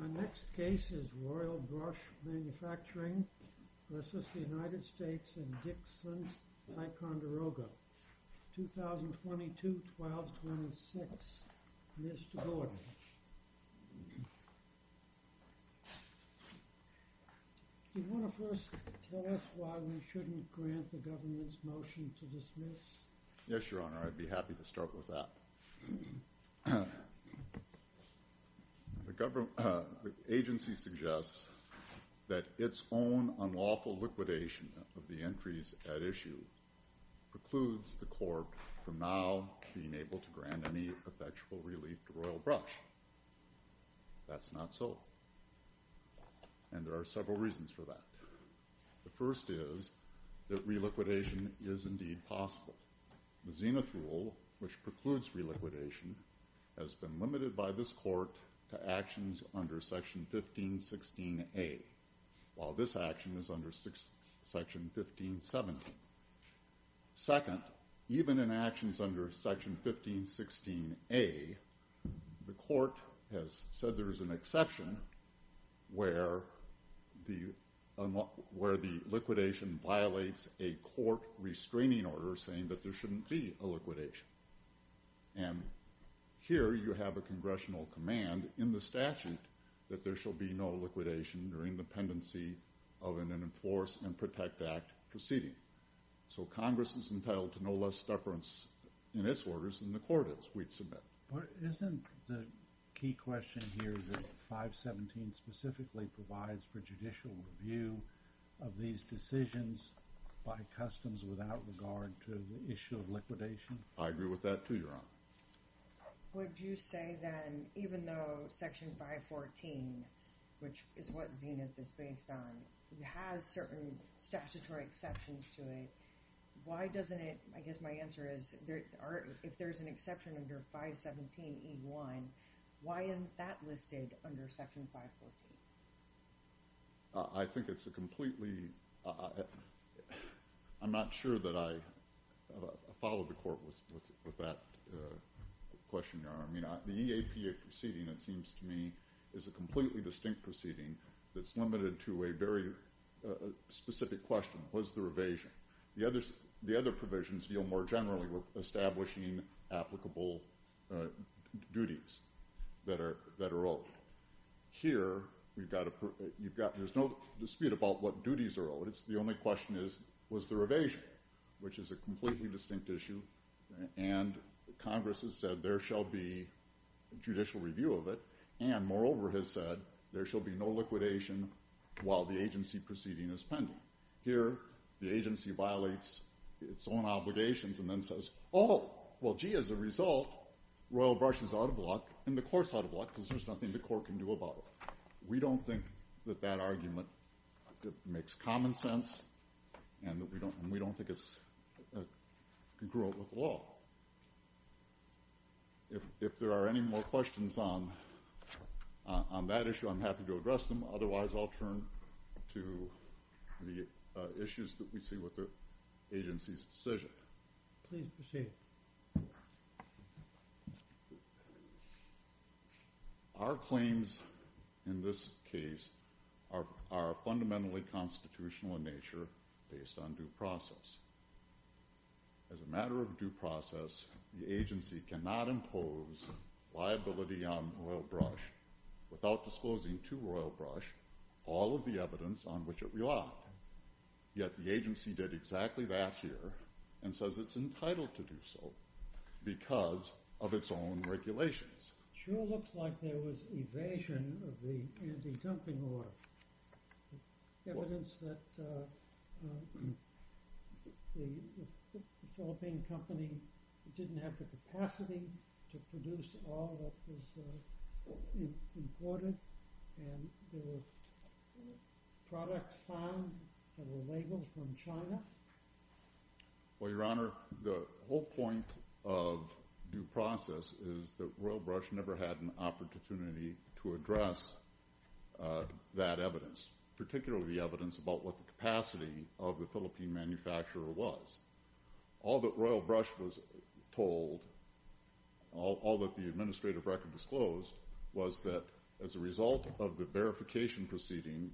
Our next case is Royal Brush Manufacturing v. United States & Dixon, Ticonderoga, 2022-12-26. Mr. Gordon. Do you want to first tell us why we shouldn't grant the government's motion to dismiss? Yes, Your Honor. I'd be happy to start with that. The agency suggests that its own unlawful liquidation of the entries at issue precludes the court from now being able to grant any effectual relief to Royal Brush. That's not so, and there are several reasons for that. The first is that reliquidation is indeed possible. The Zenith Rule, which precludes reliquidation, has been limited by this court to actions under Section 1516A, while this action is under Section 1517. Second, even in actions under Section 1516A, the court has said there is an exception where the liquidation violates a court restraining order saying that there shouldn't be a liquidation. And here you have a congressional command in the statute that there shall be no liquidation during the pendency of an Enforce and Protect Act proceeding. So Congress is entitled to no less deference in its orders than the court is, we'd submit. But isn't the key question here that 517 specifically provides for judicial review of these decisions by customs without regard to the issue of liquidation? I agree with that too, Your Honor. Would you say then, even though Section 514, which is what Zenith is based on, has certain statutory exceptions to it, why doesn't it, I guess my answer is, if there's an exception under 517E1, why isn't that listed under Section 514? I think it's a completely, I'm not sure that I follow the court with that question, Your Honor. The EAPA proceeding, it seems to me, is a completely distinct proceeding that's limited to a very specific question, was there evasion? The other provisions deal more generally with establishing applicable duties that are owed. Here, there's no dispute about what duties are owed, the only question is, was there evasion? Which is a completely distinct issue, and Congress has said there shall be judicial review of it, and moreover has said there shall be no liquidation while the agency proceeding is pending. Here, the agency violates its own obligations and then says, oh, well, gee, as a result, Royal Brush is out of luck, and the court's out of luck, because there's nothing the court can do about it. We don't think that that argument makes common sense, and we don't think it's congruent with the law. If there are any questions on that issue, I'm happy to address them, otherwise I'll turn to the issues that we see with the agency's decision. Please proceed. Our claims in this case are fundamentally constitutional in nature, based on due process. As a matter of due process, the agency cannot impose liability on Royal Brush without disclosing to Royal Brush all of the evidence on which it relied. Yet the agency did exactly that here, and says it's entitled to do so, because of its own regulations. Sure looks like there was evasion of the anti-dumping order, and evidence that the Philippine company didn't have the capacity to produce all that was imported, and the products found were labeled from China. Well, Your Honor, the whole point of due process is that Royal Brush never had an opportunity to address that evidence, particularly the evidence about what the capacity of the Philippine manufacturer was. All that Royal Brush was told, all that the administrative record disclosed, was that as a result of the verification proceeding,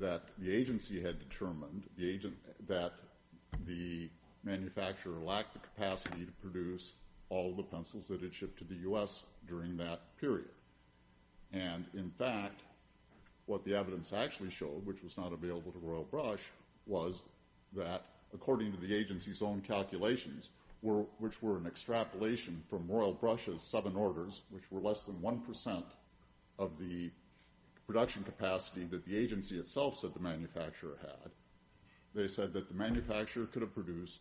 that the agency had determined that the manufacturer lacked the capacity to produce all the pencils that had shipped to the U.S. during that period. And in fact, what the evidence actually showed, which was not available to Royal Brush, was that according to the agency's own calculations, which were an extrapolation from Royal Brush's seven orders, which were less than one percent of the production capacity that the agency itself said the manufacturer had, they said that the manufacturer could have produced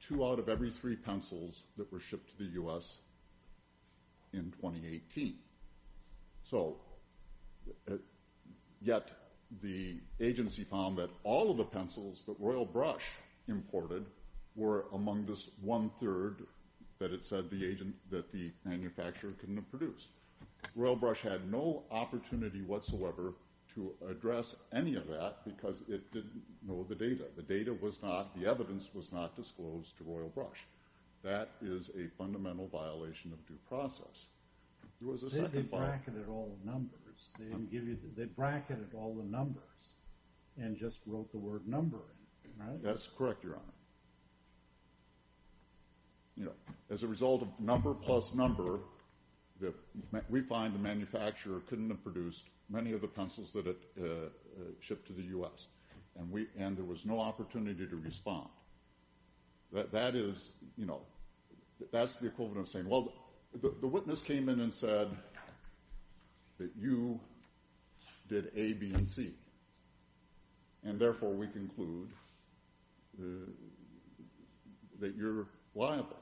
two out of every three pencils that were shipped to the U.S. in 2018. So, yet the agency found that all of the pencils that Royal Brush imported were among this one-third that it said the manufacturer couldn't have produced. Royal Brush had no opportunity whatsoever to address any of that because it didn't know the data. The data was not, the evidence was not disclosed to Royal Brush. That is a fundamental violation of due process. There was a second... They bracketed all the numbers. They bracketed all the numbers and just wrote the word number in it, right? That's correct, Your Honor. You know, as a result of number plus number, we find the manufacturer couldn't have produced many of the pencils that it shipped to the U.S., and there was no opportunity to respond. That is, you know, that's the equivalent of saying, well, the witness came in and said that you did A, B, and C, and therefore we conclude that you're liable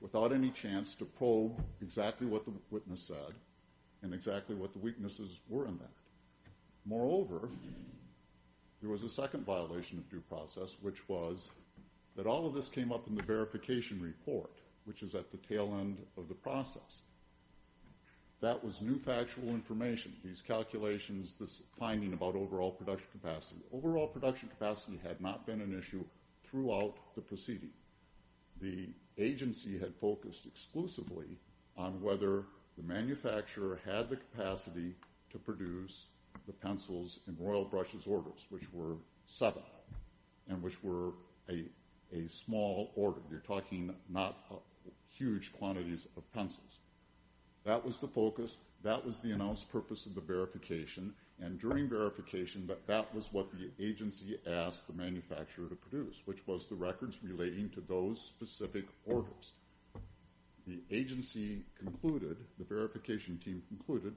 without any chance to probe exactly what the witness said and exactly what the weaknesses were in that. Moreover, there was a second violation of due process, which was that all of this came up the verification report, which is at the tail end of the process. That was new factual information. These calculations, this finding about overall production capacity. Overall production capacity had not been an issue throughout the proceeding. The agency had focused exclusively on whether the manufacturer had the capacity to produce the pencils in Royal Brush's orders, which were seven, and which were a small order. You're talking not huge quantities of pencils. That was the focus. That was the announced purpose of the verification, and during verification, that was what the agency asked the manufacturer to produce, which was the records relating to those specific orders. The agency concluded, the verification team concluded,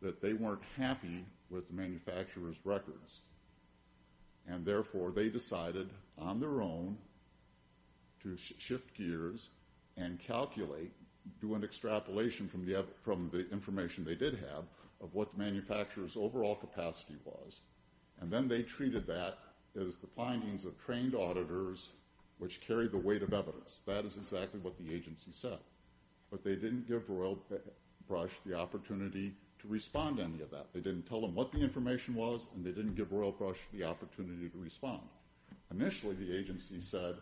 that they weren't happy with the manufacturer's records, and therefore they decided on their own to shift gears and calculate, do an extrapolation from the information they did have of what the manufacturer's overall capacity was, and then they treated that as the findings of trained auditors, which carried the weight of evidence. That is exactly what the agency said, but they didn't give Royal Brush the they didn't tell them what the information was, and they didn't give Royal Brush the opportunity to respond. Initially, the agency said,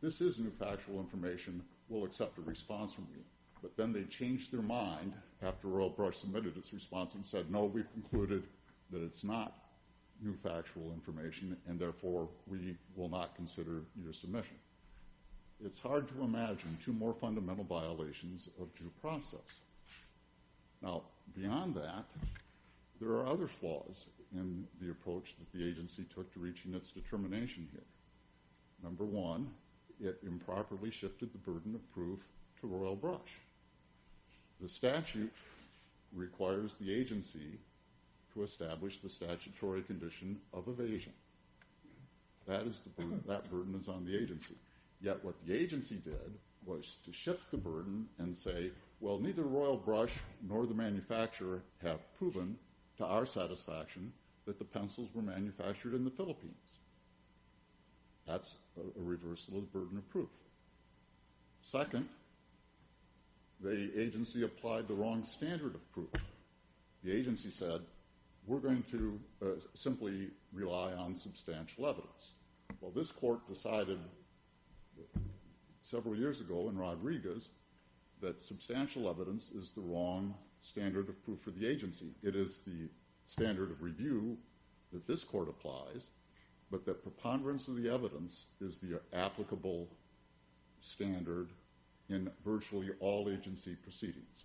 this is new factual information. We'll accept a response from you, but then they changed their mind after Royal Brush submitted its response and said, no, we've concluded that it's not new factual information, and therefore we will not consider your submission. It's hard to imagine two more fundamental violations of due process. Now, beyond that, there are other flaws in the approach that the agency took to reaching its determination here. Number one, it improperly shifted the burden of proof to Royal Brush. The statute requires the agency to establish the statutory condition of evasion. That burden is on the agency. Yet what the agency did was to shift the burden and say, well, neither Royal Brush nor the manufacturer have proven to our satisfaction that the pencils were manufactured in the Philippines. That's a reversal of the burden of proof. Second, the agency applied the wrong standard of proof. The agency said, we're going to simply rely on substantial evidence. Well, this court decided several years ago in Rodriguez that substantial evidence is the wrong standard of proof for the agency. It is the standard of review that this court applies, but that preponderance of the evidence is the applicable standard in virtually all agency proceedings.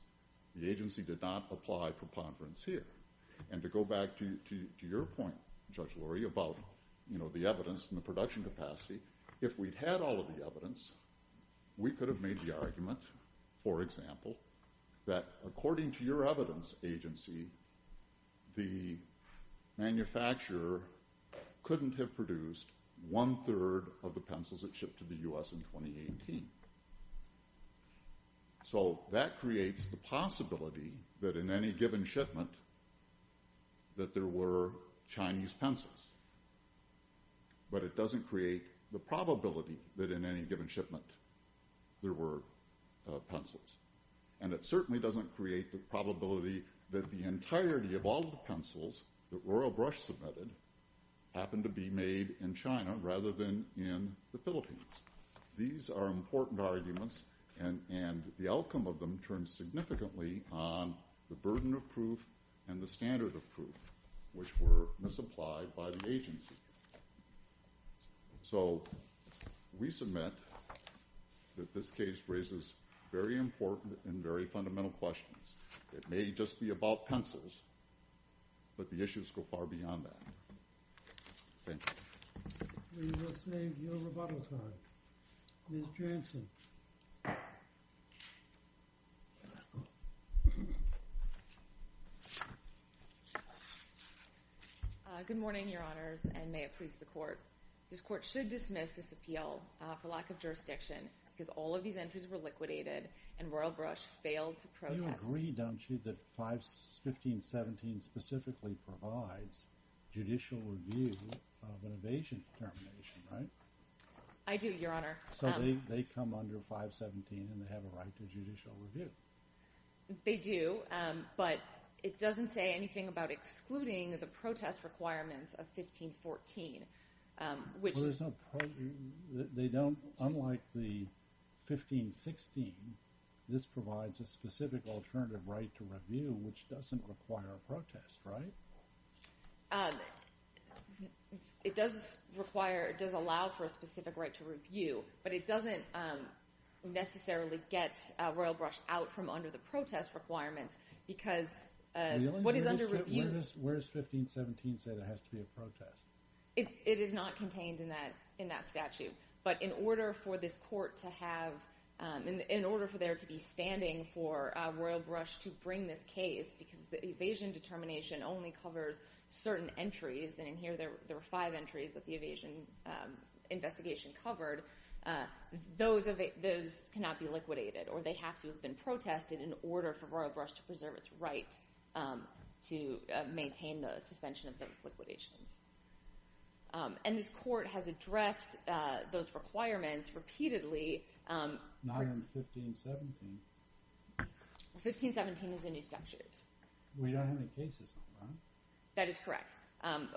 The agency did not apply preponderance here. And to go back to your point, Judge Lurie, about the evidence and the quality evidence, we could have made the argument, for example, that according to your evidence agency, the manufacturer couldn't have produced one-third of the pencils that shipped to the U.S. in 2018. So that creates the possibility that in any given shipment that there were Chinese pencils. But it doesn't create the probability that in any given shipment there were pencils. And it certainly doesn't create the probability that the entirety of all the pencils that Royal Brush submitted happened to be made in China rather than in the Philippines. These are important arguments, and the outcome of them turns significantly on the burden of proof and the standard of proof, which were misapplied by the agency. So we submit that this case raises very important and very fundamental questions. It may just be about pencils, but the issues go far beyond that. Thank you. We must save your rebuttal time. Ms. Jansen. Good morning, Your Honors, and may it please the Court. This Court should dismiss this appeal for lack of jurisdiction because all of these entries were liquidated and Royal Brush failed to protest. You agree, don't you, that 515.17 specifically provides judicial review of an evasion determination, right? I do, Your Honor. So they come under 517, and they have a right to judicial review. They do, but it doesn't say anything about excluding the protest requirements of 1514, which They don't, unlike the 1516, this provides a specific alternative right to review, which doesn't require a protest, right? It does require, it does allow for a specific right to review, but it doesn't necessarily get Royal Brush out from under the protest requirements because what is under review? Where does 515.17 say there has to be a protest? It is not contained in that statute, but in order for this Court to have, in order for there to be standing for Royal Brush to bring this case, because the evasion determination only covers certain entries, and in here there were five entries that the evasion investigation covered, those cannot be liquidated, or they have to have been protested in order for Royal Brush to preserve its right to maintain the suspension of those liquidations. And this Court has addressed those requirements repeatedly. Not under 1517. 1517 is a new statute. We don't have any cases on that. That is correct.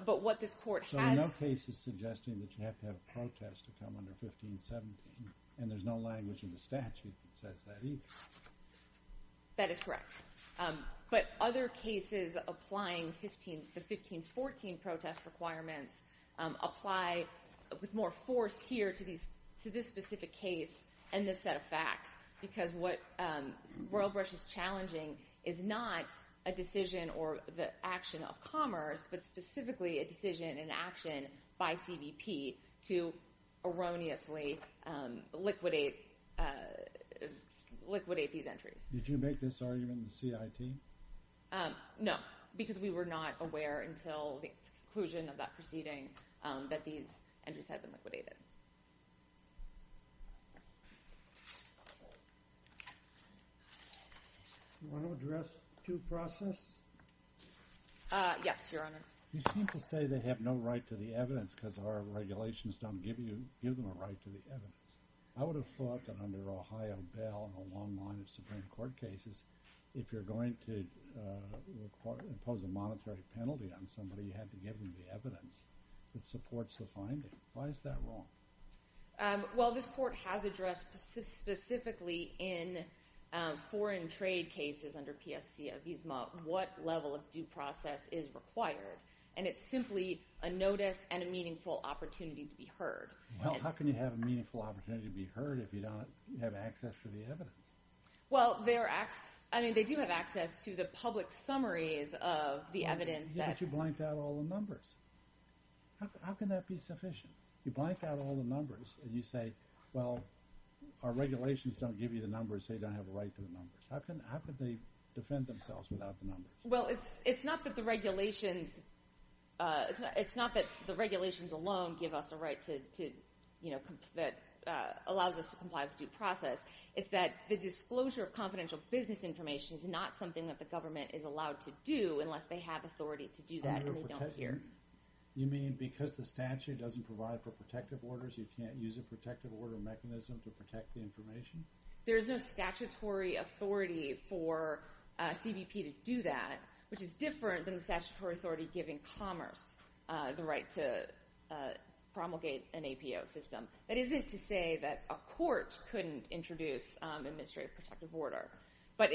But what this Court has So there are no cases suggesting that you have to have a protest to come under 1517, and there's no language in the statute that says that either. That is correct. But other cases applying the 1514 protest requirements apply with more force here to this specific case and this set of facts, because what Royal Brush is challenging is not a decision or the action of Commerce, but specifically a decision and action by CBP to erroneously liquidate these entries. Did you make this argument in the CIT? No, because we were not aware until the conclusion of that proceeding that these entries had been liquidated. Do you want to address due process? Yes, Your Honor. You seem to say they have no right to the evidence because our regulations don't give you give them a right to the evidence. I would have thought that under Ohio Bail and a long line of Supreme Court cases, if you're going to impose a monetary penalty on somebody, you have to give them the evidence that supports the finding. Why is that wrong? Well, this Court has addressed specifically in foreign trade cases under PSC Avizma what level of due process is required, and it's simply a notice and a meaningful opportunity to be heard. Well, how can you have a meaningful opportunity to be heard if you don't have access to the evidence? Well, they do have access to the public summaries of the evidence. Yeah, but you blanked out all the numbers. How can that be sufficient? You blanked out all the numbers, and you say, well, our regulations don't give you the numbers, so you don't have a right to the numbers. How could they defend themselves without the numbers? Well, it's not that the regulations alone give us a right that allows us to comply with due process. It's that the disclosure of confidential business information is not something that the government is allowed to do unless they have authority to do that and they don't hear. You mean because the statute doesn't provide for protective orders, you can't use a protective order mechanism to protect the information? There is no statutory authority for CBP to do that, which is different than the statutory authority giving commerce the right to promulgate an APO system. That isn't to say that a court couldn't introduce administrative protective order, but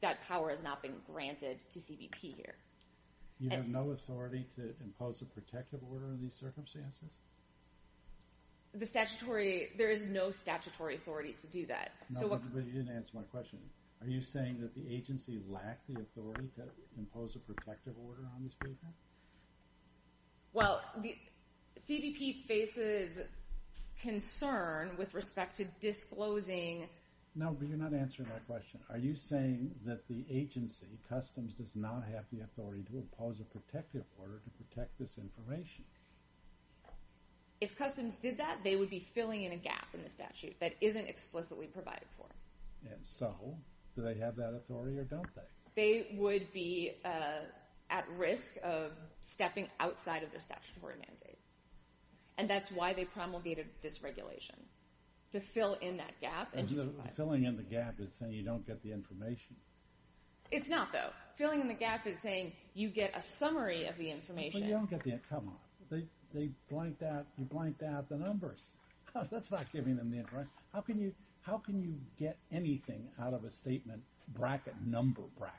that power has not been granted to CBP here. You have no authority to impose a protective order in these circumstances? The statutory, there is no statutory authority to do that. No, but you didn't answer my question. Are you saying that the agency lacked the authority to impose a protective order on this pavement? Well, the CBP faces concern with respect to disclosing... No, but you're not answering my question. Are you saying that the agency, Customs, does not have the authority to impose a protective order to protect this information? If Customs did that, they would be filling in a gap in the statute that isn't explicitly provided for. And so, do they have that authority or don't they? They would be at risk of stepping outside of their statutory mandate, and that's why they promulgated this regulation, to fill in that gap and to provide... Filling in the gap is saying you don't get the information. It's not, though. Filling in the gap is saying you get a summary of the information. You don't get the... Come on. They blanked out... You blanked out the numbers. That's not giving them the information. How can you get anything out of a statement, bracket, number bracket,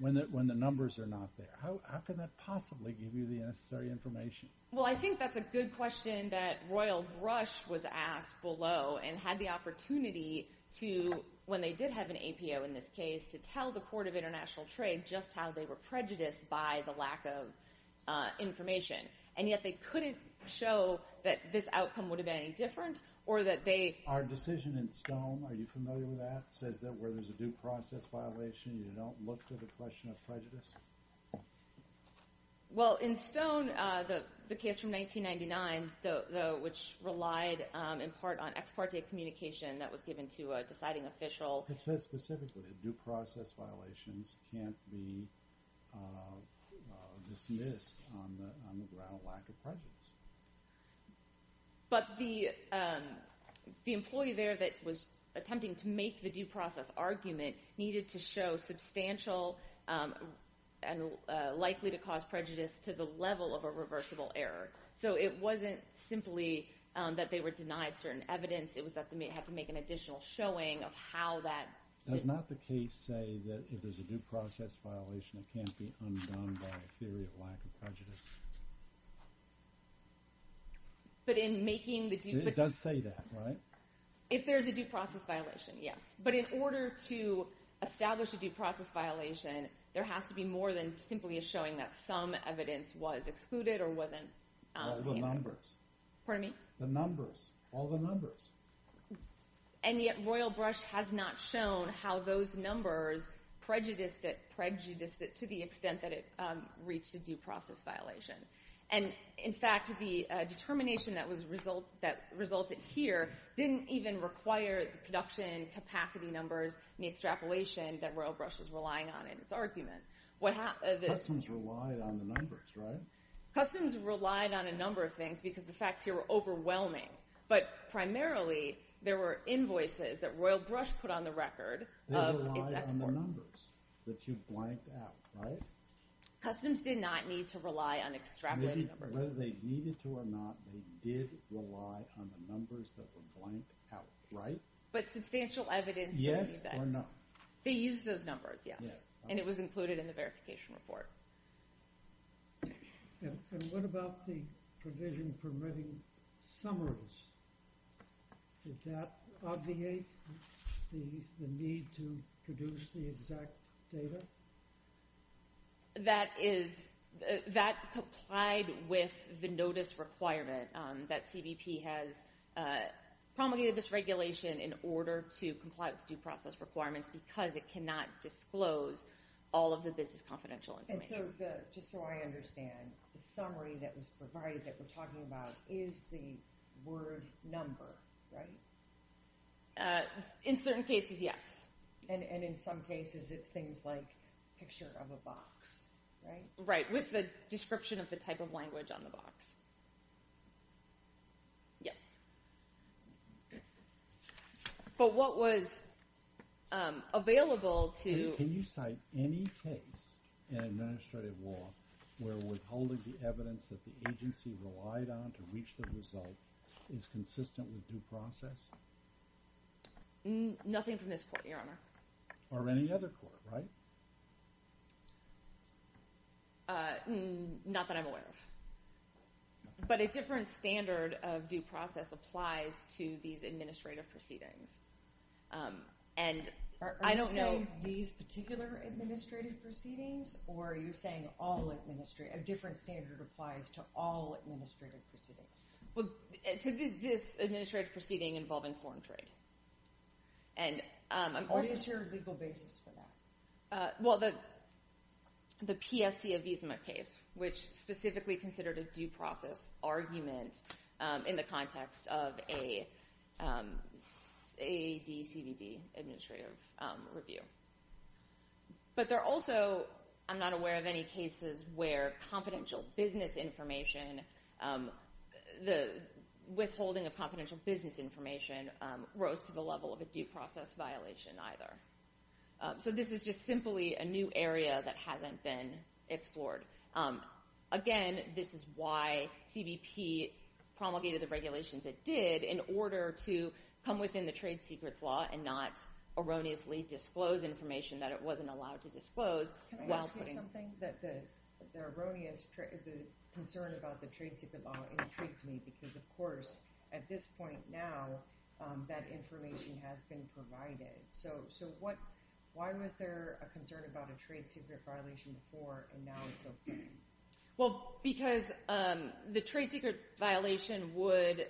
when the numbers are not there? How can that possibly give you the necessary information? Well, I think that's a good question that Royal Brush was asked below and had the opportunity to, when they did have an APO in this case, to tell the Court of International Trade just how they were prejudiced by the lack of information. And yet they couldn't show that this outcome would have been any different or that they... Our decision in Stone, are you familiar with that? It says that where there's a due process violation, you don't look to the question of prejudice. Well, in Stone, the case from 1999, which relied in part on ex parte communication that was given to a deciding official... was dismissed on the ground of lack of prejudice. But the employee there that was attempting to make the due process argument needed to show substantial and likely to cause prejudice to the level of a reversible error. So it wasn't simply that they were denied certain evidence. It was that they had to make an additional showing of how that... Does not the case say that if there's a due process violation, it can't be undone by a theory of lack of prejudice? But in making the due... It does say that, right? If there's a due process violation, yes. But in order to establish a due process violation, there has to be more than simply a showing that some evidence was excluded or wasn't... The numbers. Pardon me? The numbers. All the numbers. And yet, Royal Brush has not shown how those numbers prejudiced it to the extent that it reached a due process violation. And in fact, the determination that resulted here didn't even require the production capacity numbers and the extrapolation that Royal Brush was relying on in its argument. What happened... Customs relied on the numbers, right? Customs relied on a number of things because the facts here were overwhelming. But primarily, there were invoices that Royal Brush put on the record of... They relied on the numbers that you blanked out, right? Customs did not need to rely on extrapolated numbers. Whether they needed to or not, they did rely on the numbers that were blanked out, right? But substantial evidence... Yes or no. They used those numbers, yes. And it was included in the verification report. And what about the provision permitting summaries? Did that obviate the need to produce the exact data? That is... That complied with the notice requirement that CBP has promulgated this regulation in order to comply with due process requirements because it cannot disclose all of the business confidential information. Just so I understand, the summary that was provided that we're talking about is the word number, right? In certain cases, yes. And in some cases, it's things like picture of a box, right? Right, with the description of the type of language on the box. Yes. But what was available to... Any case in administrative law where withholding the evidence that the agency relied on to reach the result is consistent with due process? Nothing from this court, Your Honor. Or any other court, right? Not that I'm aware of. But a different standard of due process applies to these administrative proceedings. And I don't know... Administrative proceedings? Or are you saying all administrative... A different standard applies to all administrative proceedings? Well, to this administrative proceeding involving foreign trade. And I'm... What is your legal basis for that? Well, the PSC Avizuma case, which specifically considered a due process argument in the context of a ADCVD administrative review. But there are also... I'm not aware of any cases where confidential business information... The withholding of confidential business information rose to the level of a due process violation either. So this is just simply a new area that hasn't been explored. Again, this is why CBP promulgated the regulations it did in order to come within the trade secrets law and not erroneously disclose information that it wasn't allowed to disclose while putting... Can I ask you something? That the erroneous concern about the trade secret law intrigued me because, of course, at this point now, that information has been provided. Why was there a concern about a trade secret violation before and now it's open? Well, because the trade secret violation would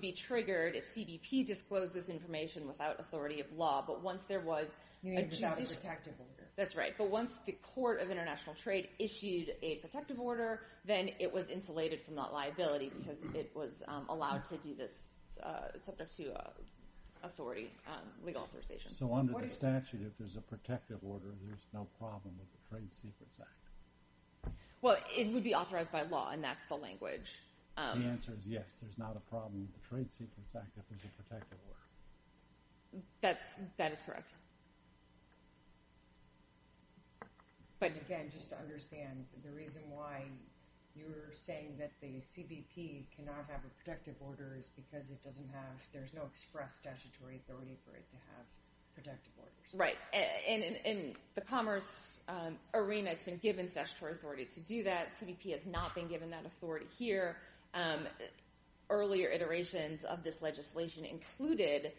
be triggered if CBP disclosed this information without authority of law. But once there was... You mean without a protective order. That's right. But once the Court of International Trade issued a protective order, then it was insulated from that liability because it was allowed to do this subject to authority, legal authorization. So under the statute, if there's a protective order, there's no problem with the Trade Secrets Act? Well, it would be authorized by law, and that's the language. The answer is yes, there's not a problem with the Trade Secrets Act if there's a protective order. That is correct. But again, just to understand, the reason why you're saying that the CBP cannot have a protective order is because it doesn't have... There's no express statutory authority for it to have protective orders. Right. In the commerce arena, it's been given statutory authority to do that. CBP has not been given that authority here. Earlier iterations of this legislation included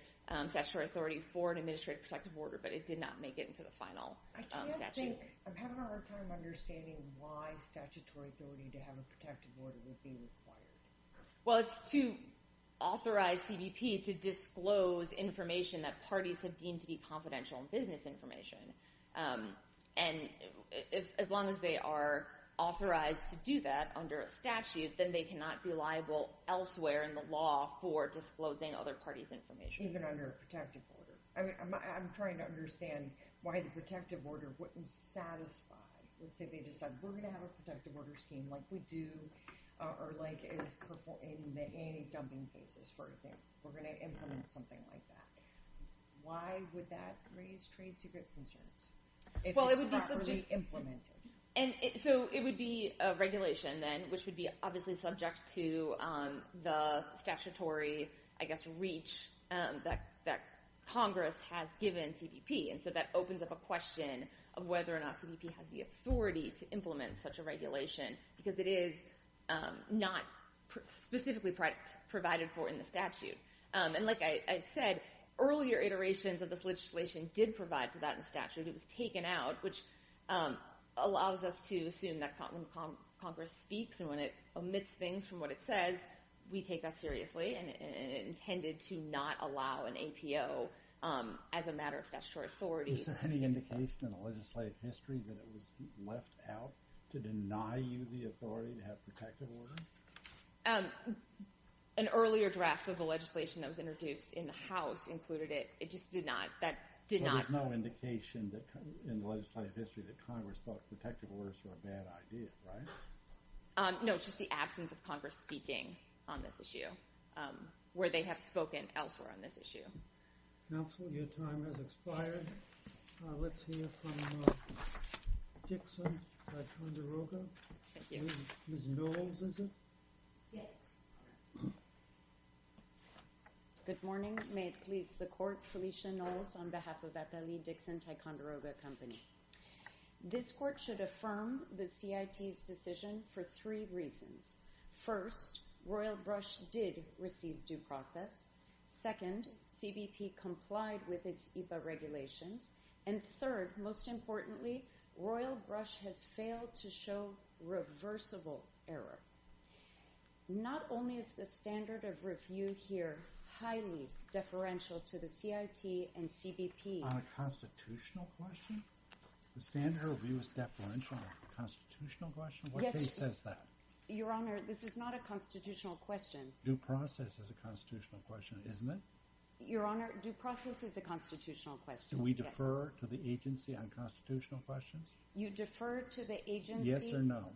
statutory authority for an administrative protective order, but it did not make it into the final statute. I can't think... I'm having a hard time understanding why statutory authority to have a protective order would be required. Well, it's to authorize CBP to disclose information that parties have deemed to be confidential in business information. And as long as they are authorized to do that under a statute, then they cannot be liable elsewhere in the law for disclosing other parties' information. Even under a protective order. I mean, I'm trying to understand why the protective order wouldn't satisfy... Let's say they decide, we're going to have a protective order scheme like we do, or like is performed in the anti-dumping cases, for example. We're going to implement something like that. Why would that raise trade secret concerns if it's properly implemented? And so it would be a regulation then, which would be obviously subject to the statutory, I guess, reach that Congress has given CBP. And so that opens up a question of whether or not CBP has the authority to implement such a regulation, because it is not specifically provided for in the statute. And like I said, earlier iterations of this legislation did provide for that in statute. It was taken out, which allows us to assume that when Congress speaks and when it omits things from what it says, we take that seriously, and it intended to not allow an APO as a matter of statutory authority. Is there any indication in the legislative history that it was left out to deny you the authority to have protective order? An earlier draft of the legislation that was introduced in the House included it. It just did not. That did not. So there's no indication in the legislative history that Congress thought protective orders were a bad idea, right? No, just the absence of Congress speaking on this issue, where they have spoken elsewhere on this issue. Counsel, your time has expired. Let's hear from Dickson, by Condorogo. Thank you. Ms. Knowles, is it? Yes. Good morning. May it please the Court. Felicia Knowles on behalf of Appellee Dickson, Ticonderoga Company. This Court should affirm the CIT's decision for three reasons. First, Royal Brush did receive due process. Second, CBP complied with its EPA regulations. And third, most importantly, Royal Brush has failed to show reversible error. Not only is the standard of review here highly deferential to the CIT and CBP. On a constitutional question? The standard of review is deferential on a constitutional question? What basis does that? Your Honor, this is not a constitutional question. Due process is a constitutional question, isn't it? Your Honor, due process is a constitutional question. Do we defer to the agency on constitutional questions? You defer to the agency? Yes or no.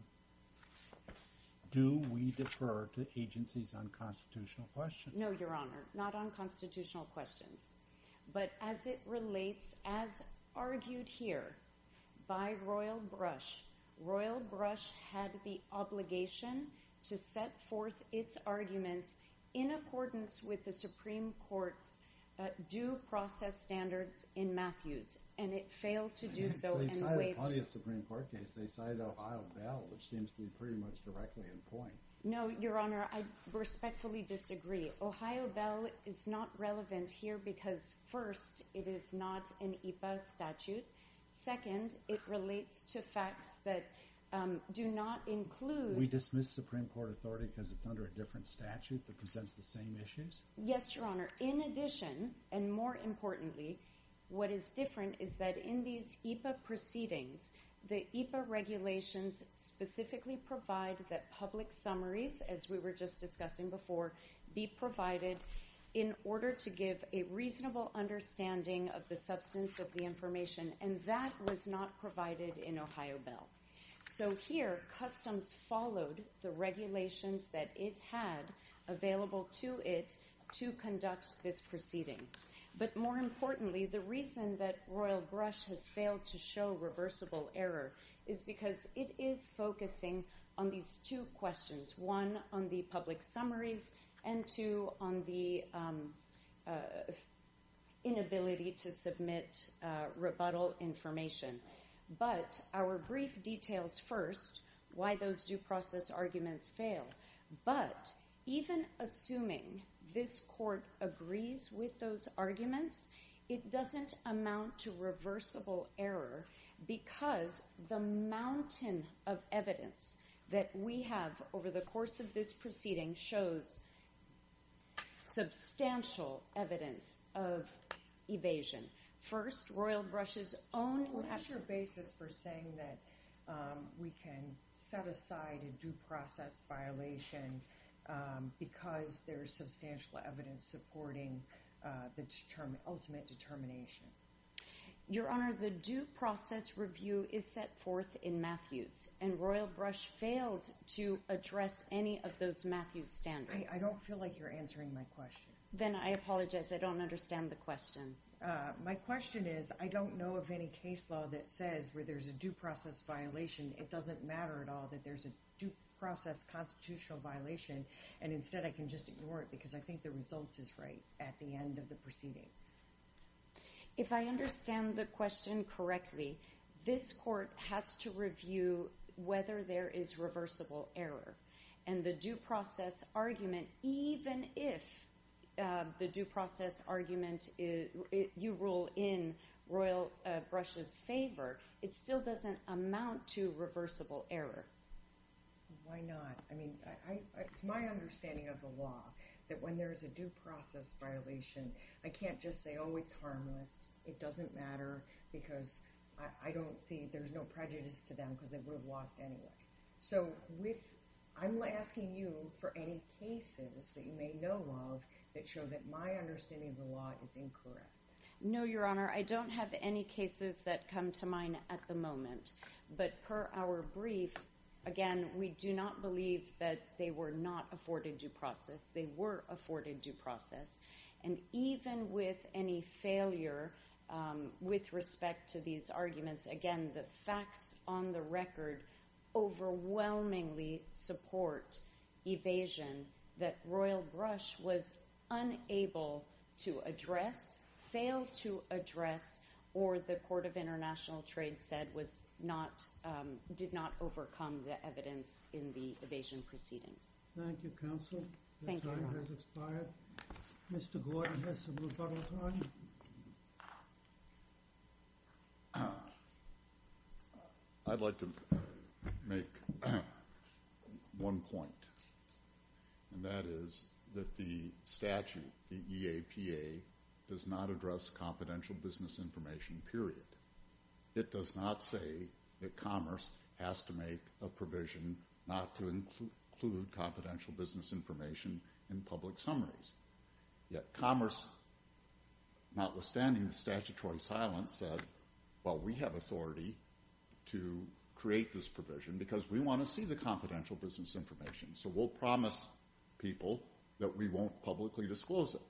Do we defer to agencies on constitutional questions? No, Your Honor, not on constitutional questions. But as it relates, as argued here by Royal Brush, Royal Brush had the obligation to set forth its arguments in accordance with the Supreme Court's due process standards in Matthews. And it failed to do so. I mean, they cited a Supreme Court case. They cited Ohio Bell, which seems to be pretty much directly in point. No, Your Honor, I respectfully disagree. Ohio Bell is not relevant here because first, it is not an EPA statute. Second, it relates to facts that do not include... We dismiss Supreme Court authority because it's under a different statute that presents the same issues? Yes, Your Honor. In addition, and more importantly, what is different is that in these EPA proceedings, the EPA regulations specifically provide that public summaries, as we were just discussing before, be provided in order to give a reasonable understanding of the substance of the information. And that was not provided in Ohio Bell. So here, Customs followed the regulations that it had available to it to conduct this proceeding. But more importantly, the reason that Royal Brush has failed to show reversible error is because it is focusing on these two questions, one, on the public summaries, and two, on the inability to submit rebuttal information. But our brief details first, why those due process arguments fail. But even assuming this court agrees with those arguments, it doesn't amount to reversible error because the mountain of evidence that we have over the course of this proceeding shows substantial evidence of evasion. First, Royal Brush's own— What is your basis for saying that we can set aside a due process violation because there is substantial evidence supporting the ultimate determination? Your Honor, the due process review is set forth in Matthews, and Royal Brush failed to address any of those Matthews standards. I don't feel like you're answering my question. Then I apologize. I don't understand the question. My question is, I don't know of any case law that says where there's a due process violation. It doesn't matter at all that there's a due process constitutional violation. And instead, I can just ignore it because I think the result is right at the end of the proceeding. If I understand the question correctly, this court has to review whether there is reversible error. And the due process argument, even if the due process argument, you rule in Royal Brush's favor, it still doesn't amount to reversible error. Why not? I mean, it's my understanding of the law that when there's a due process violation, I can't just say, oh, it's harmless. It doesn't matter because I don't see— there's no prejudice to them because they would have lost anyway. So I'm asking you for any cases that you may know of that show that my understanding of the law is incorrect. No, Your Honor. I don't have any cases that come to mind at the moment. But per our brief, again, we do not believe that they were not afforded due process. They were afforded due process. And even with any failure with respect to these arguments, again, the facts on the record overwhelmingly support evasion that Royal Brush was unable to address, failed to address, or the Court of International Trade said was not— did not overcome the evidence in the evasion proceedings. Thank you, counsel. The time has expired. Mr. Gordon has some rebuttal time. I'd like to make one point, and that is that the statute, the EAPA, does not address confidential business information, period. It does not say that commerce has to make a provision not to include confidential business information in public summaries. Yet commerce, notwithstanding the statutory silence, said, well, we have authority to create this provision because we want to see the confidential business information. So we'll promise people that we won't publicly disclose it.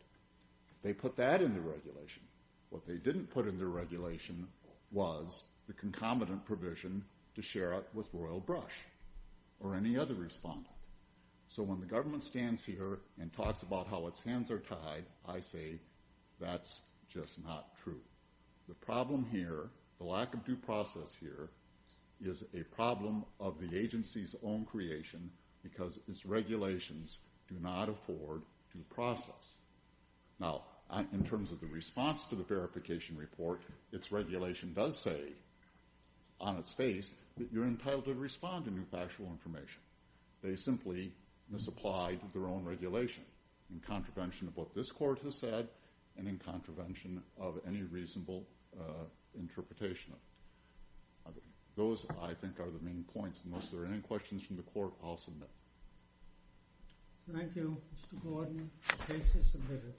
They put that in the regulation. What they didn't put in the regulation was the concomitant provision to share it with Royal Brush or any other respondent. So when the government stands here and talks about how its hands are tied, I say that's just not true. The problem here, the lack of due process here, is a problem of the agency's own creation because its regulations do not afford due process. Now, in terms of the response to the verification report, its regulation does say on its face that you're entitled to respond to new factual information. They simply misapplied their own regulation in contravention of what this court has said and in contravention of any reasonable interpretation. Those, I think, are the main points. Unless there are any questions from the court, I'll submit. Thank you, Mr. Gordon. The case is submitted.